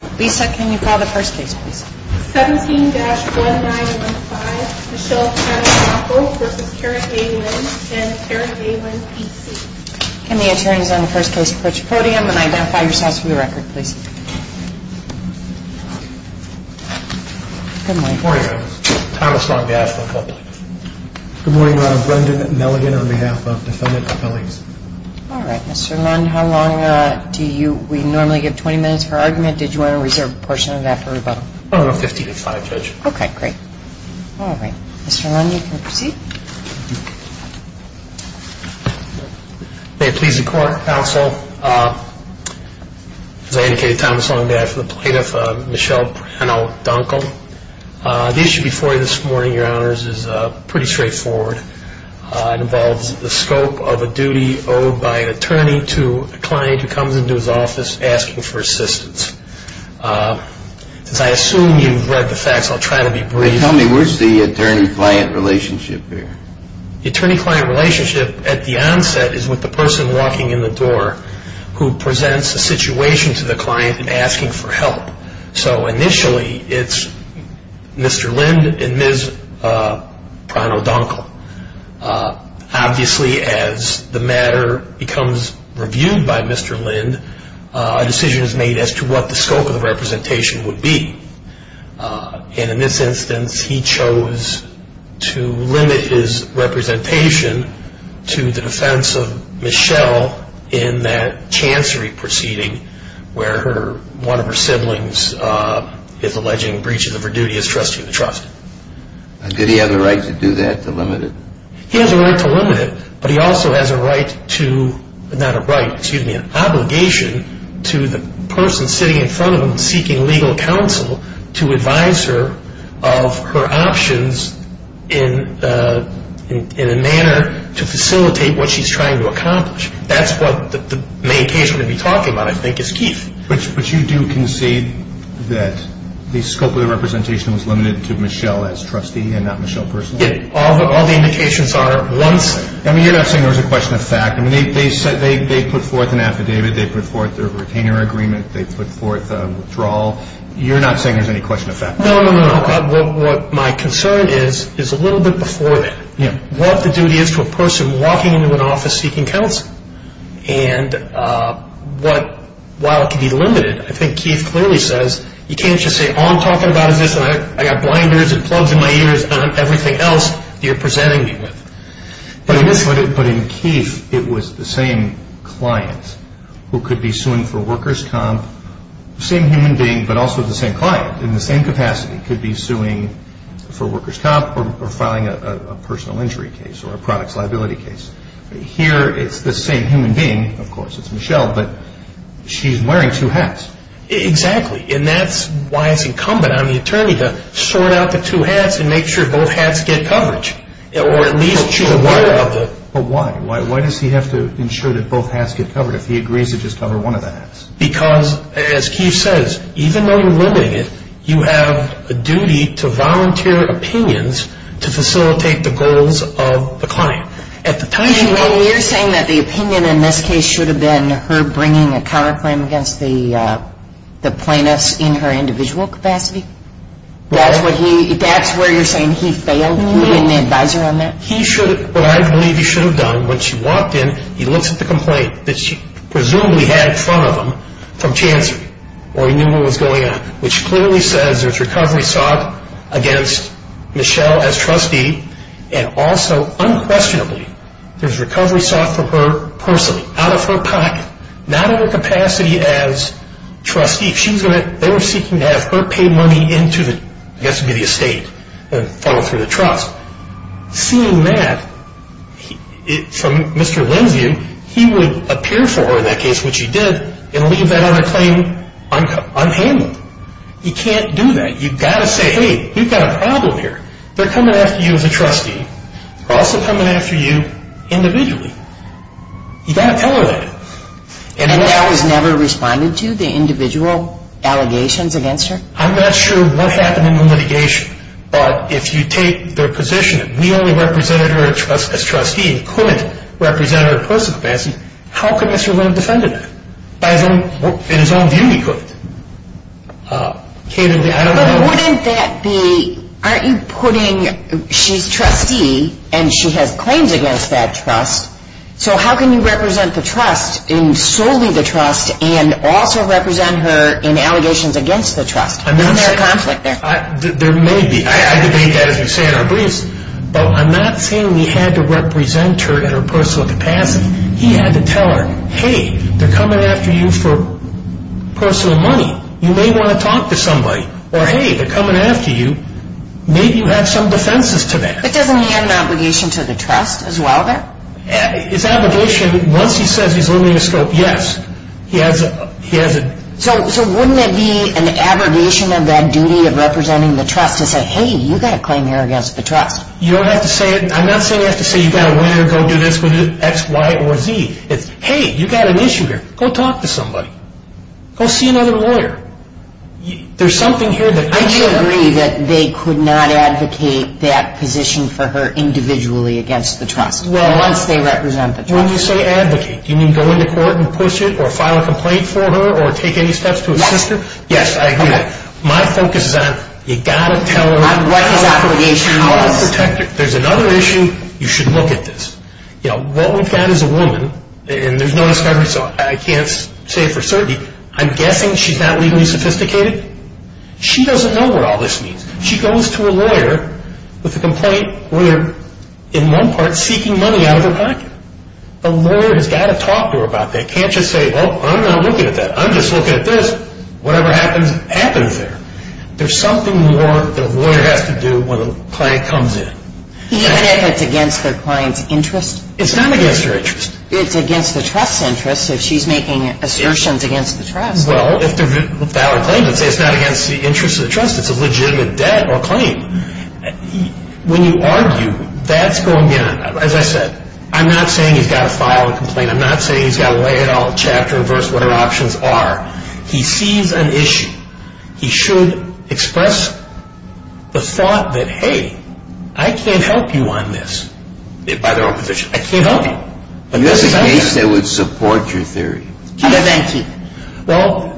Can the attorneys on the first case approach the podium and identify yourselves for the record please. Good morning. Good morning. Thomas Long-Gadge for the public. Good morning Mr. Lind, you can proceed. May it please the court, counsel, as I indicated, Thomas Long-Gadge for the plaintiff, Michelle Brennell Dunkle. The issue before you this morning, your honors, is pretty straightforward. It involves the scope of a duty owed by an attorney to a client who comes into his office asking for assistance. As I assume you've read the facts, I'll try to be brief. Tell me, where's the attorney-client relationship here? The attorney-client relationship at the onset is with the person walking in the door who presents a situation to the client and asking for help. So initially it's Mr. Lind and Ms. Brennell Dunkle. Obviously as the matter becomes reviewed by Mr. Lind, a decision is made as to what the scope of the representation would be. And in this instance, he chose to limit his representation to the defense of Michelle in that chancery proceeding where one of her siblings is alleging breaches of her duty as trustee of the Did he have a right to do that, to limit it? He has a right to limit it, but he also has a right to, not a right, excuse me, an obligation to the person sitting in front of him seeking legal counsel to advise her of her options in a manner to facilitate what she's trying to accomplish. That's what the main case we're going to be talking about, I think, is Keith. But you do concede that the scope of the representation was limited to Michelle as trustee and not Michelle personally? Yes, all the indications are, once... I mean, you're not saying there's a question of fact. I mean, they put forth an affidavit, they put forth a retainer agreement, they put forth a withdrawal. You're not saying there's any question of fact? No, no, no. What my concern is, is a little bit before that. What the duty is to a person walking into an office seeking counsel. And while it can be limited, I think Keith clearly says, you can't just say, all I'm talking about is this, and I've got blinders and plugs in my ears, and everything else you're presenting me with. But in Keith, it was the same client who could be suing for workers' comp, same human being, but also the same client, in the same capacity, could be suing for workers' comp or filing a personal injury case or a products liability case. Here, it's the same human being, of course, it's Michelle, but she's wearing two hats. Exactly. And that's why it's incumbent on the attorney to sort out the two hats and make sure both hats get coverage. Or at least she's aware of the... But why? Why does he have to ensure that both hats get covered if he agrees to just cover one of the hats? Because, as Keith says, even though you're limiting it, you have a duty to volunteer opinions to facilitate the goals of the client. You're saying that the opinion in this case should have been her bringing a counterclaim against the plaintiff in her individual capacity? That's where you're saying he failed? He didn't advise her on that? What I believe he should have done, when she walked in, he looks at the complaint that she presumably had in front of him from Chancery, or he knew what was going on, which clearly says there's recovery sought against Michelle as trustee. And also, unquestionably, there's recovery sought for her personally, out of her pocket, not in her capacity as trustee. They were seeking to have her pay money into, I guess it would be the estate, and follow through the trust. Seeing that, from Mr. Lenz's view, he would appear for her in that case, which he did, and leave that counterclaim unhandled. He can't do that. You've got to say, hey, you've got a problem here. They're coming after you as a trustee. They're also coming after you individually. You've got to tell her that. And that was never responded to, the individual allegations against her? I'm not sure what happened in the litigation, but if you take their position that we only represented her as trustee, and couldn't represent her in her personal capacity, how could Mr. Lenz defend her? In his own view, he couldn't. But wouldn't that be, aren't you putting, she's trustee, and she has claims against that trust, so how can you represent the trust in solely the trust, and also represent her in allegations against the trust? Isn't there a conflict there? There may be. I debate that, as you say, in our briefs. But I'm not saying we had to represent her in her personal capacity. He had to tell her, hey, they're coming after you for personal money. You may want to talk to somebody. Or, hey, they're coming after you. Maybe you have some defenses to that. But doesn't he have an obligation to the trust, as well, then? His obligation, once he says he's limiting the scope, yes. So wouldn't it be an abrogation of that duty of representing the trust to say, hey, you've got a claim here against the trust? You don't have to say it. I'm not saying you have to say you've got to win or go do this with X, Y, or Z. It's, hey, you've got an issue here. Go talk to somebody. Go see another lawyer. There's something here that – Would you agree that they could not advocate that position for her individually against the trust? Well – Once they represent the trust. When you say advocate, do you mean go into court and push it or file a complaint for her or take any steps to assist her? Yes, I agree. Okay. My focus is on, you've got to tell her – What his obligation was. You've got to protect her. There's another issue. You should look at this. You know, what we've got is a woman, and there's no discovery, so I can't say for certain. I'm guessing she's not legally sophisticated. She doesn't know what all this means. She goes to a lawyer with a complaint where, in one part, seeking money out of her pocket. The lawyer has got to talk to her about that. Can't just say, well, I'm not looking at that. I'm just looking at this. Whatever happens, happens there. There's something more the lawyer has to do when a client comes in. Even if it's against the client's interest? It's not against her interest. It's against the trust's interest if she's making assertions against the trust. Well, if they're valid claims, it's not against the interest of the trust. It's a legitimate debt or claim. When you argue, that's going to – as I said, I'm not saying he's got to file a complaint. I'm not saying he's got to lay it all out in a chapter or verse, whatever options are. He sees an issue. He should express the thought that, hey, I can't help you on this. I can't help you. You have a case that would support your theory. Well,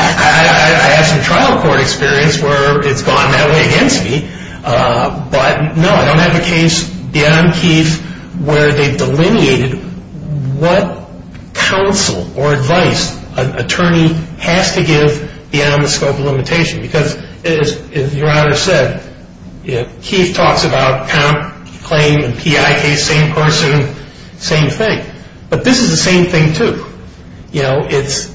I have some trial court experience where it's gone that way against me. But, no, I don't have a case beyond Keith where they've delineated what counsel or advice an attorney has to give beyond the scope of limitation. Because, as your honor said, Keith talks about count, claim, and PI case, same person, same thing. But this is the same thing, too. You know, it's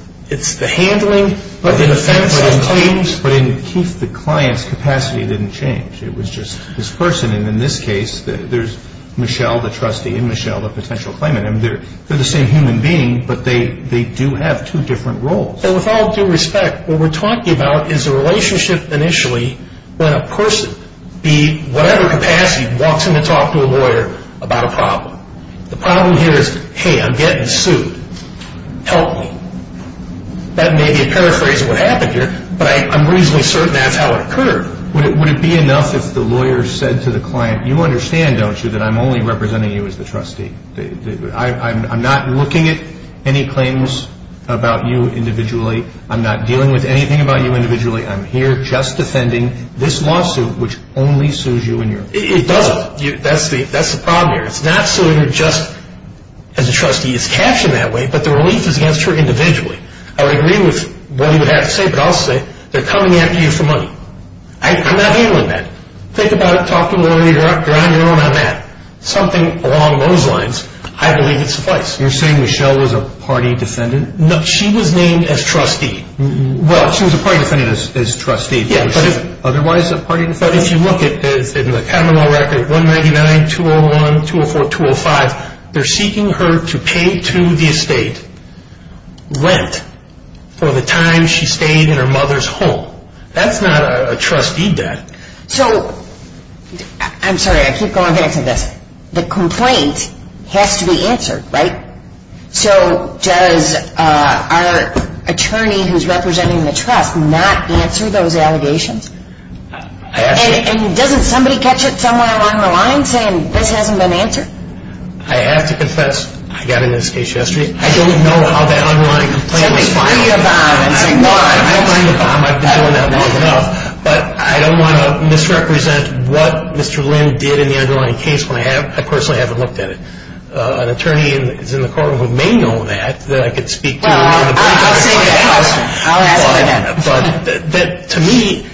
the handling of the defense of claims. But in Keith, the client's capacity didn't change. It was just this person. And in this case, there's Michelle, the trustee, and Michelle, the potential claimant. I mean, they're the same human being, but they do have two different roles. Well, with all due respect, what we're talking about is a relationship initially when a person, be whatever capacity, walks in to talk to a lawyer about a problem. The problem here is, hey, I'm getting sued. Help me. That may be a paraphrase of what happened here, but I'm reasonably certain that's how it occurred. Would it be enough if the lawyer said to the client, you understand, don't you, that I'm only representing you as the trustee? I'm not looking at any claims about you individually. I'm not dealing with anything about you individually. I'm here just defending this lawsuit, which only sues you and your client. It doesn't. That's the problem here. It's not suing her just as a trustee. It's captioned that way, but the relief is against her individually. I would agree with what you have to say, but I'll say they're coming after you for money. I'm not handling that. Think about it. Talk to a lawyer. You're on your own on that. Something along those lines, I believe, is the place. You're saying Michelle was a party defendant? No, she was named as trustee. Well, she was a party defendant as trustee. Otherwise a party defendant? But if you look at the criminal record 199-201, 204-205, they're seeking her to pay to the estate rent for the time she stayed in her mother's home. That's not a trustee debt. I'm sorry. I keep going back to this. The complaint has to be answered, right? So does our attorney who's representing the trust not answer those allegations? And doesn't somebody catch it somewhere along the line saying this hasn't been answered? I have to confess I got into this case yesterday. I don't know how that underlying complaint was filed. Somebody threw you a bomb and said, no, I don't know. I've been doing that long enough. But I don't want to misrepresent what Mr. Lynn did in the underlying case when I personally haven't looked at it. An attorney who's in the courtroom who may know that, that I could speak to. Well, I'll say that. I'll ask him again. But to me,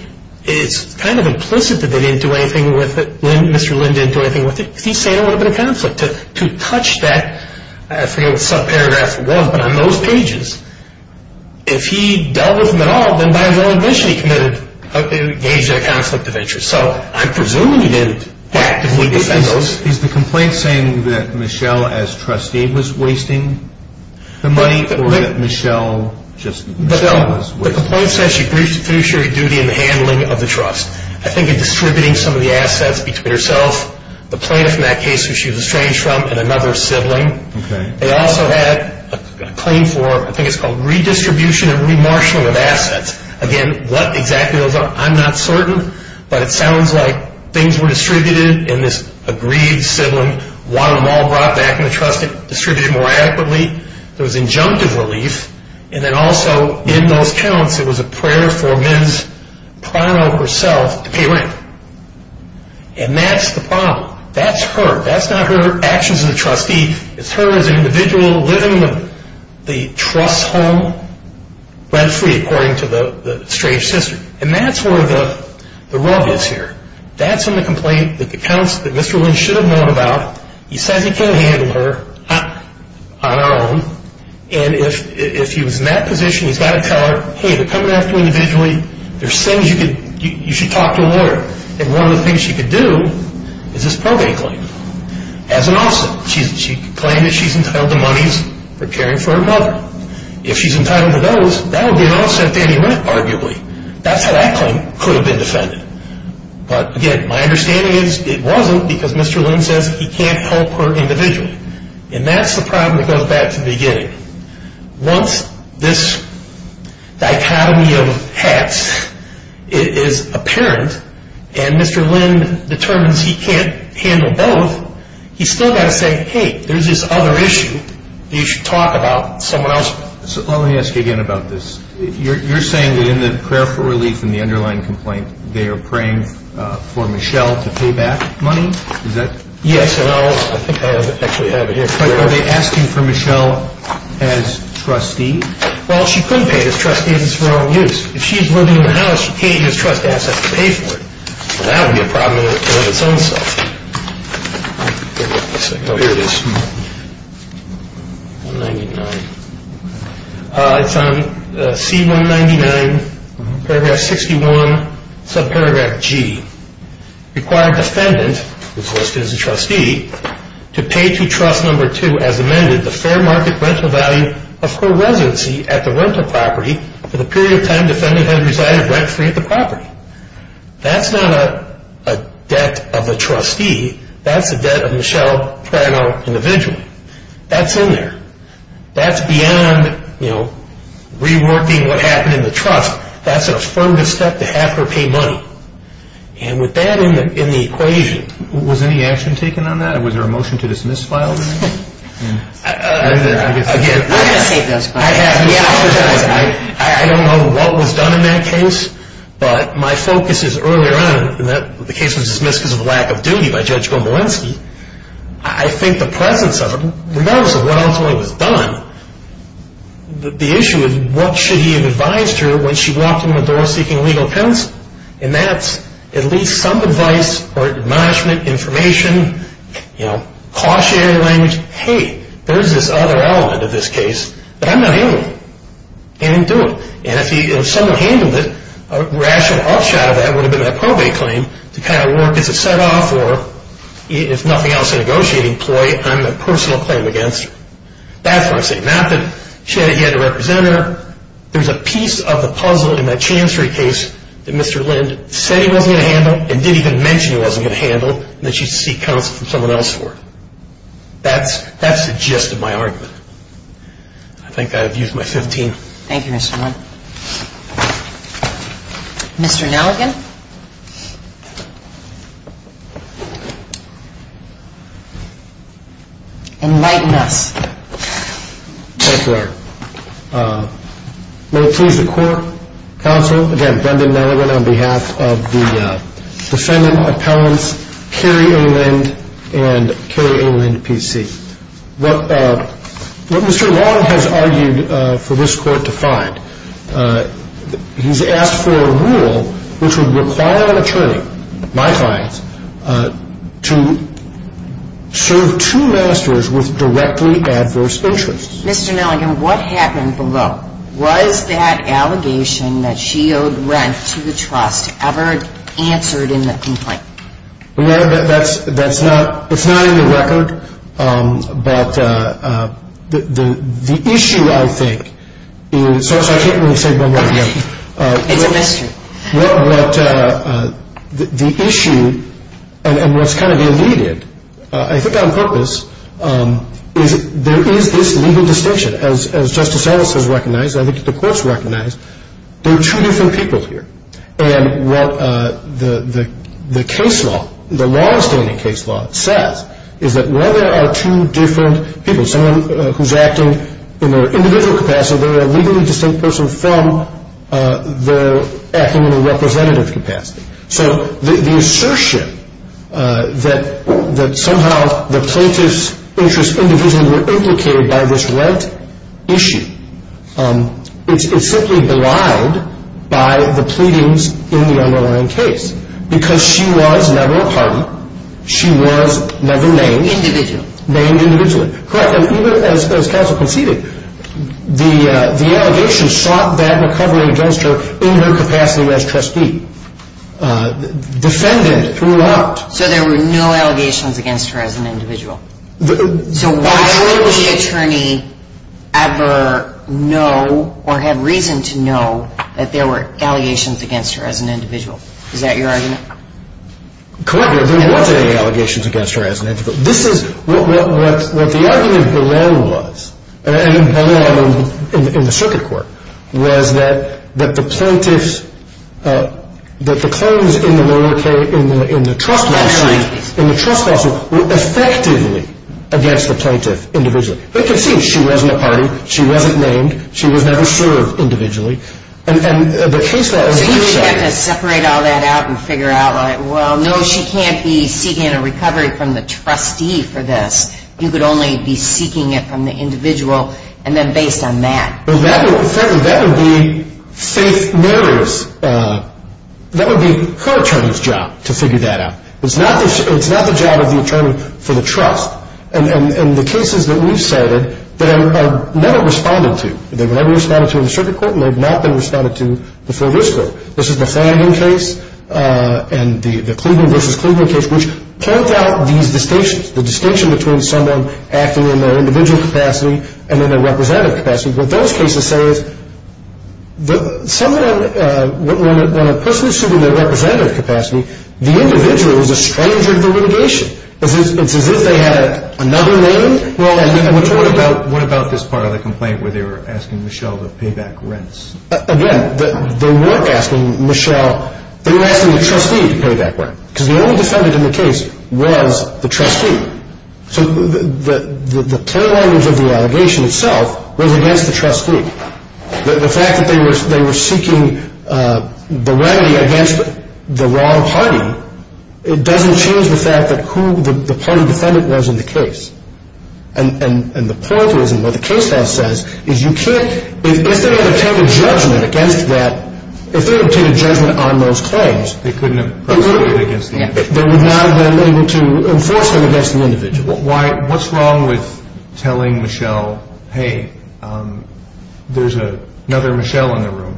it's kind of implicit that they didn't do anything with it, Mr. Lynn didn't do anything with it, because he's saying it would have been a conflict. But to touch that, I forget what the subparagraphs were, but on those pages, if he dealt with them at all, then by his own admission he engaged in a conflict of interest. So I'm presuming he didn't actively defend those. Is the complaint saying that Michelle as trustee was wasting the money? Or that Michelle just was wasting it? The complaint says she finished her duty in the handling of the trust. I think in distributing some of the assets between herself, the plaintiff in that case who she was estranged from, and another sibling. They also had a claim for, I think it's called redistribution and remarshaling of assets. Again, what exactly those are, I'm not certain. But it sounds like things were distributed, and this agreed sibling wanted them all brought back into the trust and distributed more adequately. There was injunctive relief. And then also, in those counts, it was a prayer for Ms. Prado herself to pay rent. And that's the problem. That's her. That's not her actions as a trustee. It's her as an individual living with the trust's home, rent-free, according to the estranged sister. And that's where the rub is here. That's in the complaint, the accounts that Mr. Lynch should have known about. He says he can't handle her on her own. And if he was in that position, he's got to tell her, hey, they're coming after her individually. There's things you should talk to a lawyer. And one of the things she could do is this probate claim as an offset. She claimed that she's entitled to monies for caring for her mother. If she's entitled to those, that would be an offset to any rent, arguably. That's how that claim could have been defended. But, again, my understanding is it wasn't because Mr. Lynch says he can't help her individually. And that's the problem that goes back to the beginning. Once this dichotomy of hats is apparent and Mr. Lynch determines he can't handle both, he's still got to say, hey, there's this other issue that you should talk about with someone else. Let me ask you again about this. You're saying that in the prayer for relief in the underlying complaint, they are praying for Michelle to pay back money? Yes. I think I actually have it here. Are they asking for Michelle as trustee? Well, she couldn't pay it as trustee. It's for her own use. If she's living in the house, she can't use trust assets to pay for it. That would be a problem in its own self. Here it is. 199. It's on C199, paragraph 61, subparagraph G. Require defendant, who's listed as a trustee, to pay to trust number two as amended the fair market rental value of her residency at the rental property for the period of time defendant had resided rent-free at the property. That's not a debt of a trustee. That's a debt of Michelle Prano individually. That's in there. That's beyond reworking what happened in the trust. That's an affirmative step to have her pay money. And with that in the equation. Was any action taken on that? Was there a motion to dismiss file? Again, I don't know what was done in that case. But my focus is earlier on, the case was dismissed because of a lack of duty by Judge Gombolinski. I think the presence of him, regardless of what ultimately was done, the issue is what should he have advised her when she walked in the door seeking legal counsel? And that's at least some advice or admonishment, information, you know, cautionary language. Hey, there's this other element of this case that I'm not handling. And he didn't do it. And if someone handled it, a rational upshot of that would have been a probate claim to kind of work as a set-off or if nothing else, a negotiating ploy on a personal claim against her. That's what I'm saying. Not that she hadn't yet had a representative. There's a piece of the puzzle in that Chancery case that Mr. Lind said he wasn't going to handle and didn't even mention he wasn't going to handle and that she'd seek counsel from someone else for it. That's the gist of my argument. I think I've used my 15. Thank you, Mr. Lind. Mr. Nelligan? Enlighten us. Thank you, Your Honor. May it please the court, counsel, again, Brendan Nelligan on behalf of the defendant appellants, Carrie A. Lind and Carrie A. Lind, PC. What Mr. Long has argued for this court to find, he's asked for a rule which would require an attorney, my clients, to serve two ministers with directly adverse interests. Mr. Nelligan, what happened below? Was that allegation that she owed rent to the trust ever answered in the complaint? Well, that's not in the record, but the issue, I think, is so I can't really say one word. It's a mystery. What the issue and what's kind of eluded, I think on purpose, is there is this legal distinction. As Justice Ellis has recognized and I think the courts recognize, there are two different people here. And what the case law, the law-abstaining case law says is that while there are two different people, someone who's acting in their individual capacity, they're a legally distinct person from their acting in a representative capacity. So the assertion that somehow the plaintiff's interests individually were implicated by this rent issue, it's simply belied by the pleadings in the underlying case because she was never a party. She was never named. Individually. Named individually. Correct. And even as counsel conceded, the allegation sought that recovery against her in her capacity as trustee. Defendant threw out. So there were no allegations against her as an individual? So why would the attorney ever know or have reason to know that there were allegations against her as an individual? Is that your argument? Correct. There weren't any allegations against her as an individual. So this is what the argument below was, and below in the circuit court, was that the plaintiffs, that the claims in the trust lawsuit were effectively against the plaintiff individually. But it can seem she wasn't a party. She wasn't named. She was never served individually. And the case law is a good example. So you didn't have to separate all that out and figure out, well, no, she can't be seeking a recovery from the trustee for this. You could only be seeking it from the individual, and then based on that. Well, frankly, that would be her attorney's job to figure that out. It's not the job of the attorney for the trust. And the cases that we've cited, they were never responded to. They were never responded to in the circuit court, and they've not been responded to before this court. This is the Flanagan case and the Cleveland v. Cleveland case, which point out these distinctions, the distinction between someone acting in their individual capacity and in their representative capacity. What those cases say is when a person is serving their representative capacity, the individual is a stranger to the litigation. It's as if they had another name. What about this part of the complaint where they were asking Michelle to pay back rents? Again, they weren't asking Michelle. They were asking the trustee to pay back rent because the only defendant in the case was the trustee. So the plain language of the allegation itself was against the trustee. The fact that they were seeking the remedy against the wrong party, it doesn't change the fact that who the party defendant was in the case. And the point is, and what the case has said, is you can't, if they were to obtain a judgment against that, if they were to obtain a judgment on those claims, they would not have been able to enforce them against the individual. What's wrong with telling Michelle, hey, there's another Michelle in the room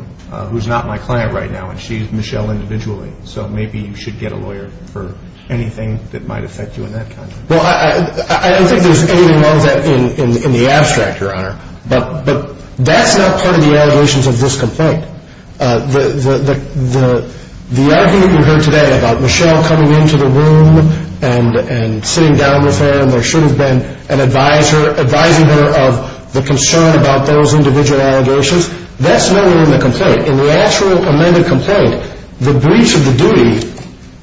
who's not my client right now, and she's Michelle individually, so maybe you should get a lawyer for anything that might affect you in that context. Well, I don't think there's anything wrong with that in the abstract, Your Honor, but that's not part of the allegations of this complaint. The argument we heard today about Michelle coming into the room and sitting down with her and there should have been an advisor advising her of the concern about those individual allegations, that's not in the complaint. In the actual amended complaint, the breach of the duty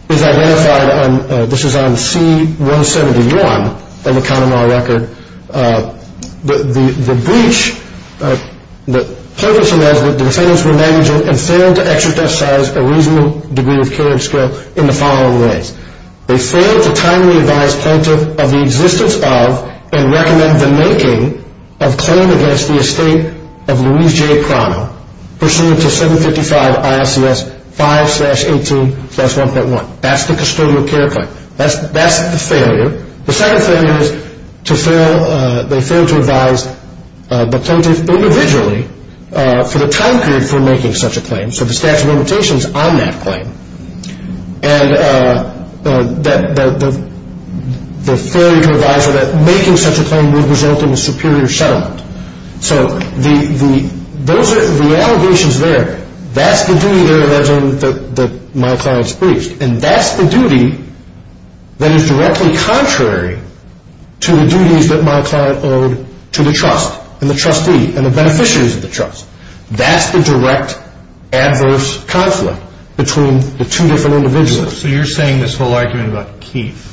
is identified on, this is on C-171 on the count of my record. The breach, the purpose of that is that the defendants were negligent and failed to exercise a reasonable degree of care and skill in the following ways. They failed to timely advise plaintiff of the existence of and recommend the making of claim against the estate of Louise J. Crono, pursuant to 755 ISCS 5-18-1.1. That's the custodial care claim. That's the failure. The second failure is they failed to advise the plaintiff individually for the time period for making such a claim, so the statute of limitations on that claim. And the failure to advise her that making such a claim would result in a superior settlement. So the allegations there, that's the duty there that my client's breached and that's the duty that is directly contrary to the duties that my client owed to the trust and the trustee and the beneficiaries of the trust. That's the direct adverse conflict between the two different individuals. So you're saying this whole argument about Keith.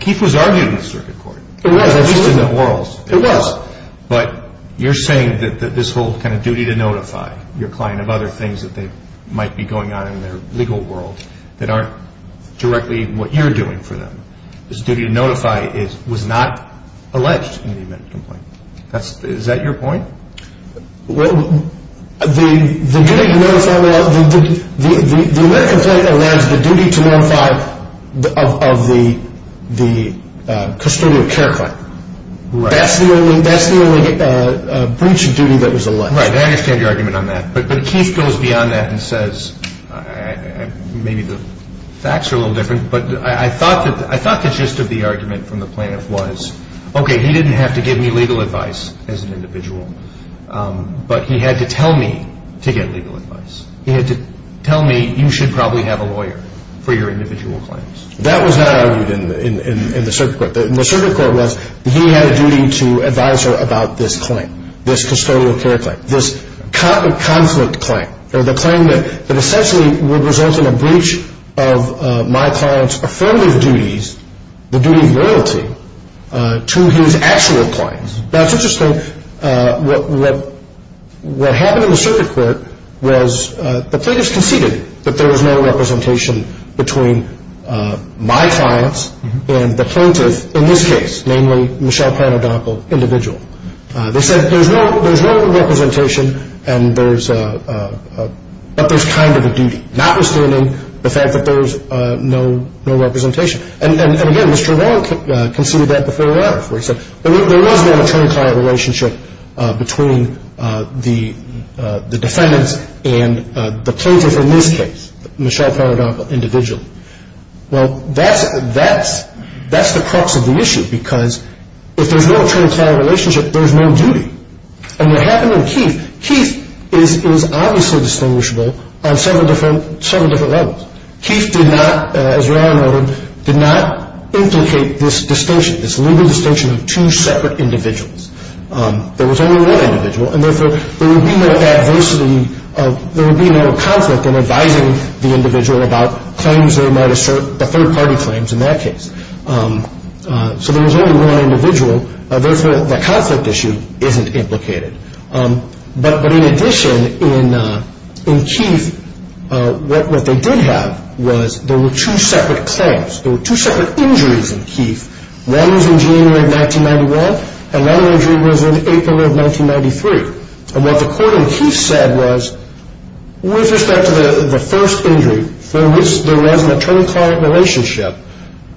Keith was argued in the circuit court. It was. At least in the orals. It was. But you're saying that this whole kind of duty to notify your client of other things that might be going on in their legal world that aren't directly what you're doing for them. This duty to notify was not alleged in the amendment complaint. Is that your point? The amendment complaint allows the duty to notify of the custodial care claim. That's the only breach of duty that was alleged. Right. I understand your argument on that. But Keith goes beyond that and says, maybe the facts are a little different, but I thought the gist of the argument from the plaintiff was, okay, he didn't have to give me legal advice as an individual, but he had to tell me to get legal advice. He had to tell me you should probably have a lawyer for your individual claims. That was not argued in the circuit court. The circuit court was he had a duty to advise her about this claim, this custodial care claim, this conflict claim or the claim that essentially would result in a breach of my client's affirmative duties, the duty of loyalty to his actual clients. Now, it's interesting. What happened in the circuit court was the plaintiffs conceded that there was no representation between my clients and the plaintiff in this case, namely Michelle Panadopoul, individual. They said there's no representation, but there's kind of a duty, notwithstanding the fact that there was no representation. And, again, Mr. Rowan conceded that before a lawyer before he said there was no attorney-client relationship between the defendants and the plaintiff in this case, Michelle Panadopoul, individual. Well, that's the crux of the issue because if there's no attorney-client relationship, there's no duty. And what happened in Keith, Keith is obviously distinguishable on several different levels. Keith did not, as Rowan noted, did not implicate this distinction, this legal distinction of two separate individuals. There was only one individual, and, therefore, there would be no adversity, there would be no conflict in advising the individual about claims they might assert, the third-party claims in that case. So there was only one individual. Therefore, the conflict issue isn't implicated. But, in addition, in Keith, what they did have was there were two separate claims. There were two separate injuries in Keith. One was in January of 1991, and one injury was in April of 1993. And what the court in Keith said was with respect to the first injury for which there was an attorney-client relationship,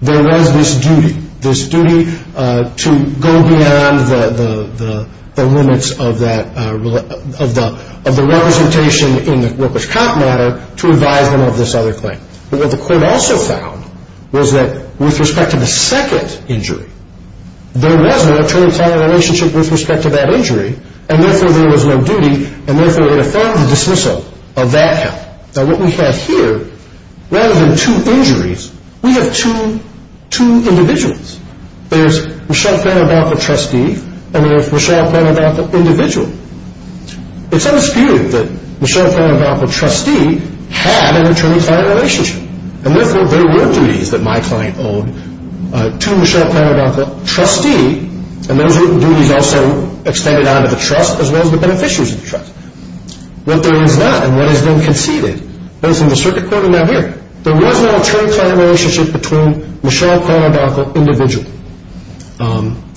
there was this duty, this duty to go beyond the limits of the representation in the workers' comp matter to advise them of this other claim. But what the court also found was that with respect to the second injury, there was no attorney-client relationship with respect to that injury, and, therefore, there was no duty, and, therefore, it affirmed the dismissal of that help. Now, what we have here, rather than two injuries, we have two individuals. There's Michele Parabonco, trustee, and there's Michele Parabonco, individual. It's unspeakable that Michele Parabonco, trustee, had an attorney-client relationship, and, therefore, there were duties that my client owed to Michele Parabonco, trustee, and those duties also extended out of the trust as well as the beneficiaries of the trust. What there is not, and what has been conceded, both in the circuit court and out here, there was no attorney-client relationship between Michele Parabonco, individual.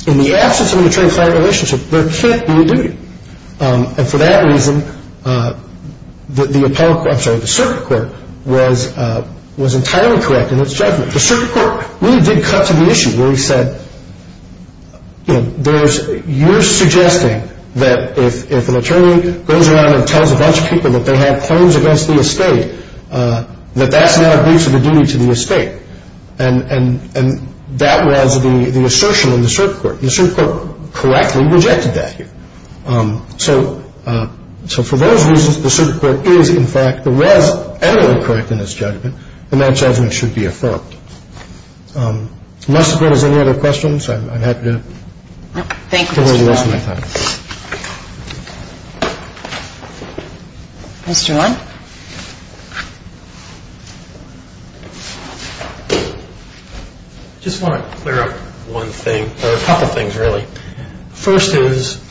In the absence of an attorney-client relationship, there can't be a duty, and, for that reason, the circuit court was entirely correct in its judgment. The circuit court really did cut to the issue where he said, you know, there's, you're suggesting that if an attorney goes around and tells a bunch of people that they have claims against the estate, that that's not a breach of the duty to the estate, and that was the assertion in the circuit court. The circuit court correctly rejected that here. So, for those reasons, the circuit court is, in fact, was entirely correct in its judgment, and that judgment should be affirmed. Unless there's any other questions, I'm happy to... ...toward the rest of my time. Mr. Ron? I just want to clear up one thing, or a couple things, really. First is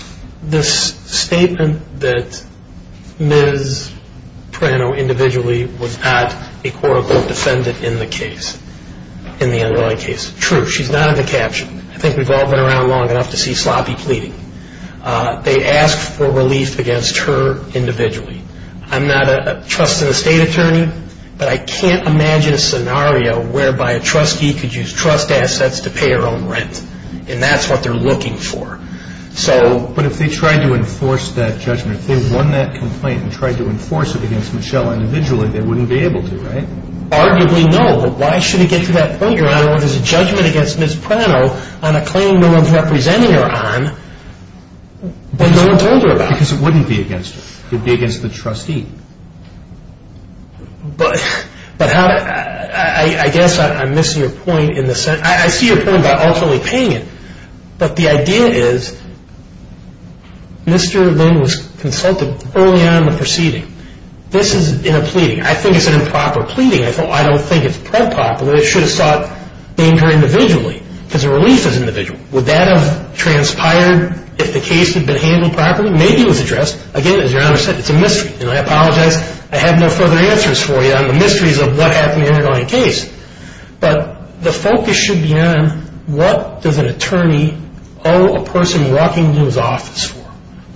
this statement that Ms. Prano individually was not a court-appointed defendant in the case. In the underlying case. True, she's not in the caption. I think we've all been around long enough to see sloppy pleading. They asked for relief against her individually. I'm not a trusted estate attorney, but I can't imagine a scenario whereby a trustee could use trust assets to pay her own rent, and that's what they're looking for. So... But if they tried to enforce that judgment, if they won that complaint and tried to enforce it against Michelle individually, they wouldn't be able to, right? Arguably, no. But why should it get to that point, Your Honor, when there's a judgment against Ms. Prano on a claim no one's representing her on, but no one told her about it? Because it wouldn't be against her. It would be against the trustee. But how... I guess I'm missing your point in the sense... I see your point about ultimately paying it, but the idea is Mr. Lynn was consulted early on in the proceeding. This is in a pleading. I think it's an improper pleading. I don't think it's preproper. It should have sought danger individually, because the relief is individual. Would that have transpired if the case had been handled properly? Maybe it was addressed. Again, as Your Honor said, it's a mystery. And I apologize. I have no further answers for you on the mysteries of what happened in your case. But the focus should be on what does an attorney owe a person walking into his office for?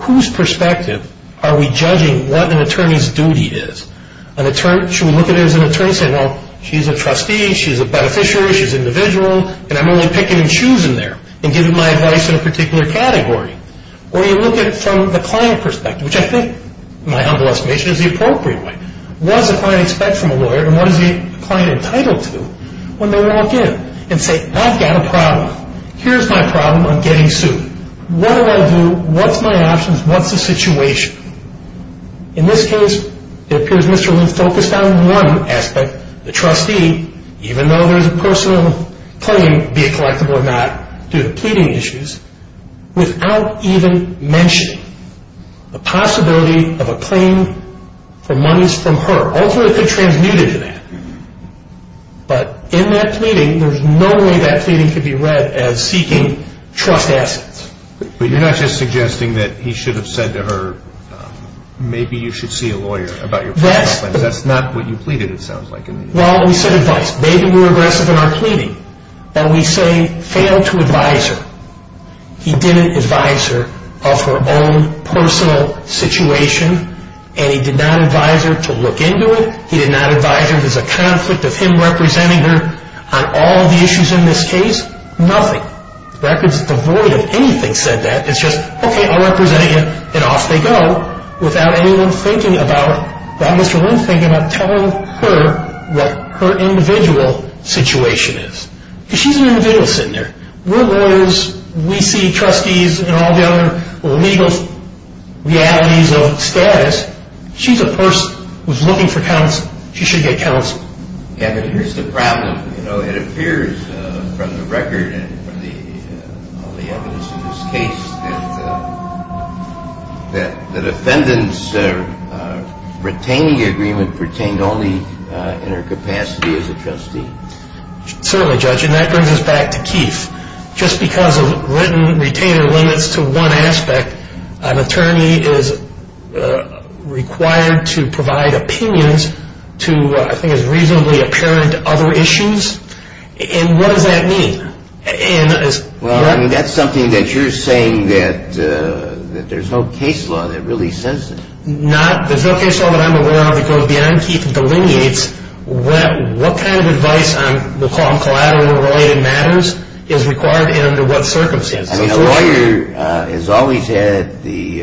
Whose perspective are we judging what an attorney's duty is? Should we look at it as an attorney saying, well, she's a trustee, she's a beneficiary, she's individual, and I'm only picking and choosing there and giving my advice in a particular category? Or you look at it from the client perspective, which I think, in my humble estimation, is the appropriate way. What does the client expect from a lawyer and what is the client entitled to when they walk in and say, I've got a problem. Here's my problem. I'm getting sued. What do I do? What's my options? What's the situation? In this case, it appears Mr. Luth focused on one aspect, the trustee, even though there's a personal claim, be it collectible or not, to the pleading issues, without even mentioning the possibility of a claim for monies from her. Ultimately, it could transmute into that. But in that pleading, there's no way that pleading could be read as seeking trust assets. But you're not just suggesting that he should have said to her, maybe you should see a lawyer about your problem. That's not what you pleaded, it sounds like. Well, we said advice. Maybe we were aggressive in our pleading, but we say fail to advise her. He didn't advise her of her own personal situation, and he did not advise her to look into it. He did not advise her there's a conflict of him representing her on all the issues in this case. Nothing. The record's devoid of anything that said that. It's just, okay, I represent you, and off they go without anyone thinking about, without Mr. Luth thinking about telling her what her individual situation is. She's an individual sitting there. We're lawyers. We see trustees and all the other legal realities of status. She's a person who's looking for counsel. She should get counsel. Kevin, here's the problem. You know, it appears from the record and from all the evidence in this case that the defendant's retaining agreement pertained only in her capacity as a trustee. Certainly, Judge, and that brings us back to Keefe. Just because a written retainer limits to one aspect, an attorney is required to provide opinions to, I think, as reasonably apparent other issues, and what does that mean? Well, that's something that you're saying that there's no case law that really says that. There's no case law that I'm aware of because beyond Keefe delineates what kind of advice, we'll call them collateral related matters, is required and under what circumstances. A lawyer has always had the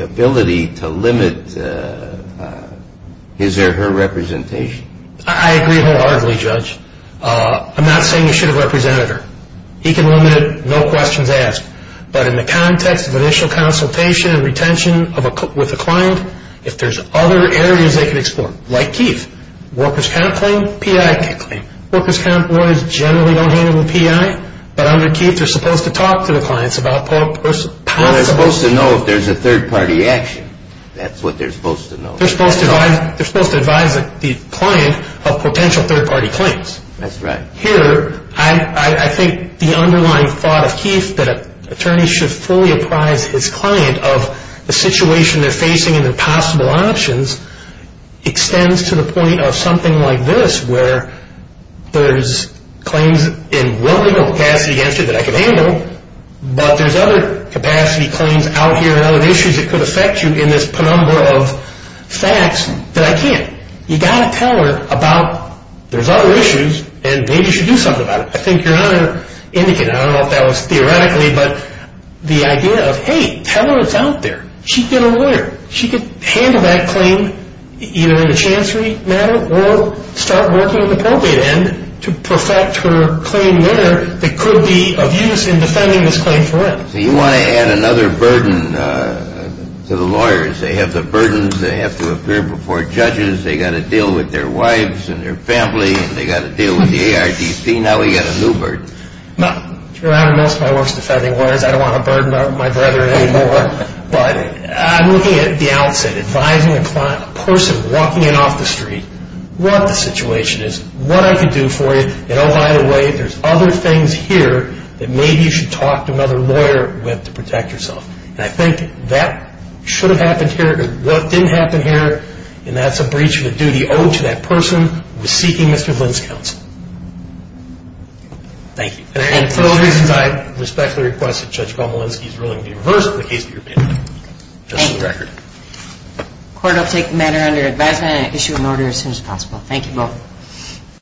ability to limit his or her representation. I agree wholeheartedly, Judge. I'm not saying you should have represented her. He can limit it, no questions asked. But in the context of initial consultation and retention with a client, if there's other areas they can explore, like Keefe, workers' comp claim, PI claim. Workers' comp lawyers generally don't handle PI, but under Keefe they're supposed to talk to the clients about possible. They're supposed to know if there's a third-party action. That's what they're supposed to know. They're supposed to advise the client of potential third-party claims. That's right. Here, I think the underlying thought of Keefe, that an attorney should fully apprise his client of the situation they're facing and their possible options extends to the point of something like this, where there's claims in one legal capacity against you that I can handle, but there's other capacity claims out here and other issues that could affect you in this penumbra of facts that I can't. You've got to tell her about there's other issues, and maybe you should do something about it. I think you're not an indicate. I don't know if that was theoretically, but the idea of, hey, tell her it's out there. She'd get a lawyer. She could handle that claim either in a chancery manner or start working with the probate end to perfect her claim there that could be of use in defending this claim forever. So you want to add another burden to the lawyers. They have the burdens. They have to appear before judges. They've got to deal with their wives and their family, and they've got to deal with the ARDC. Now we've got a new burden. Most of my work is defending lawyers. I don't want to burden my brethren anymore, but I'm looking at the outset advising a person walking in off the street what the situation is, what I can do for you, and, oh, by the way, there's other things here that maybe you should talk to another lawyer with to protect yourself. And I think that should have happened here. What didn't happen here, and that's a breach of a duty owed to that person, was seeking Mr. Flynn's counsel. Thank you. And for those reasons, I respectfully request that Judge Komolensky's ruling be reversed in the case of your benefit, just for the record. Court will take the matter under advisement and issue an order as soon as possible. Thank you both.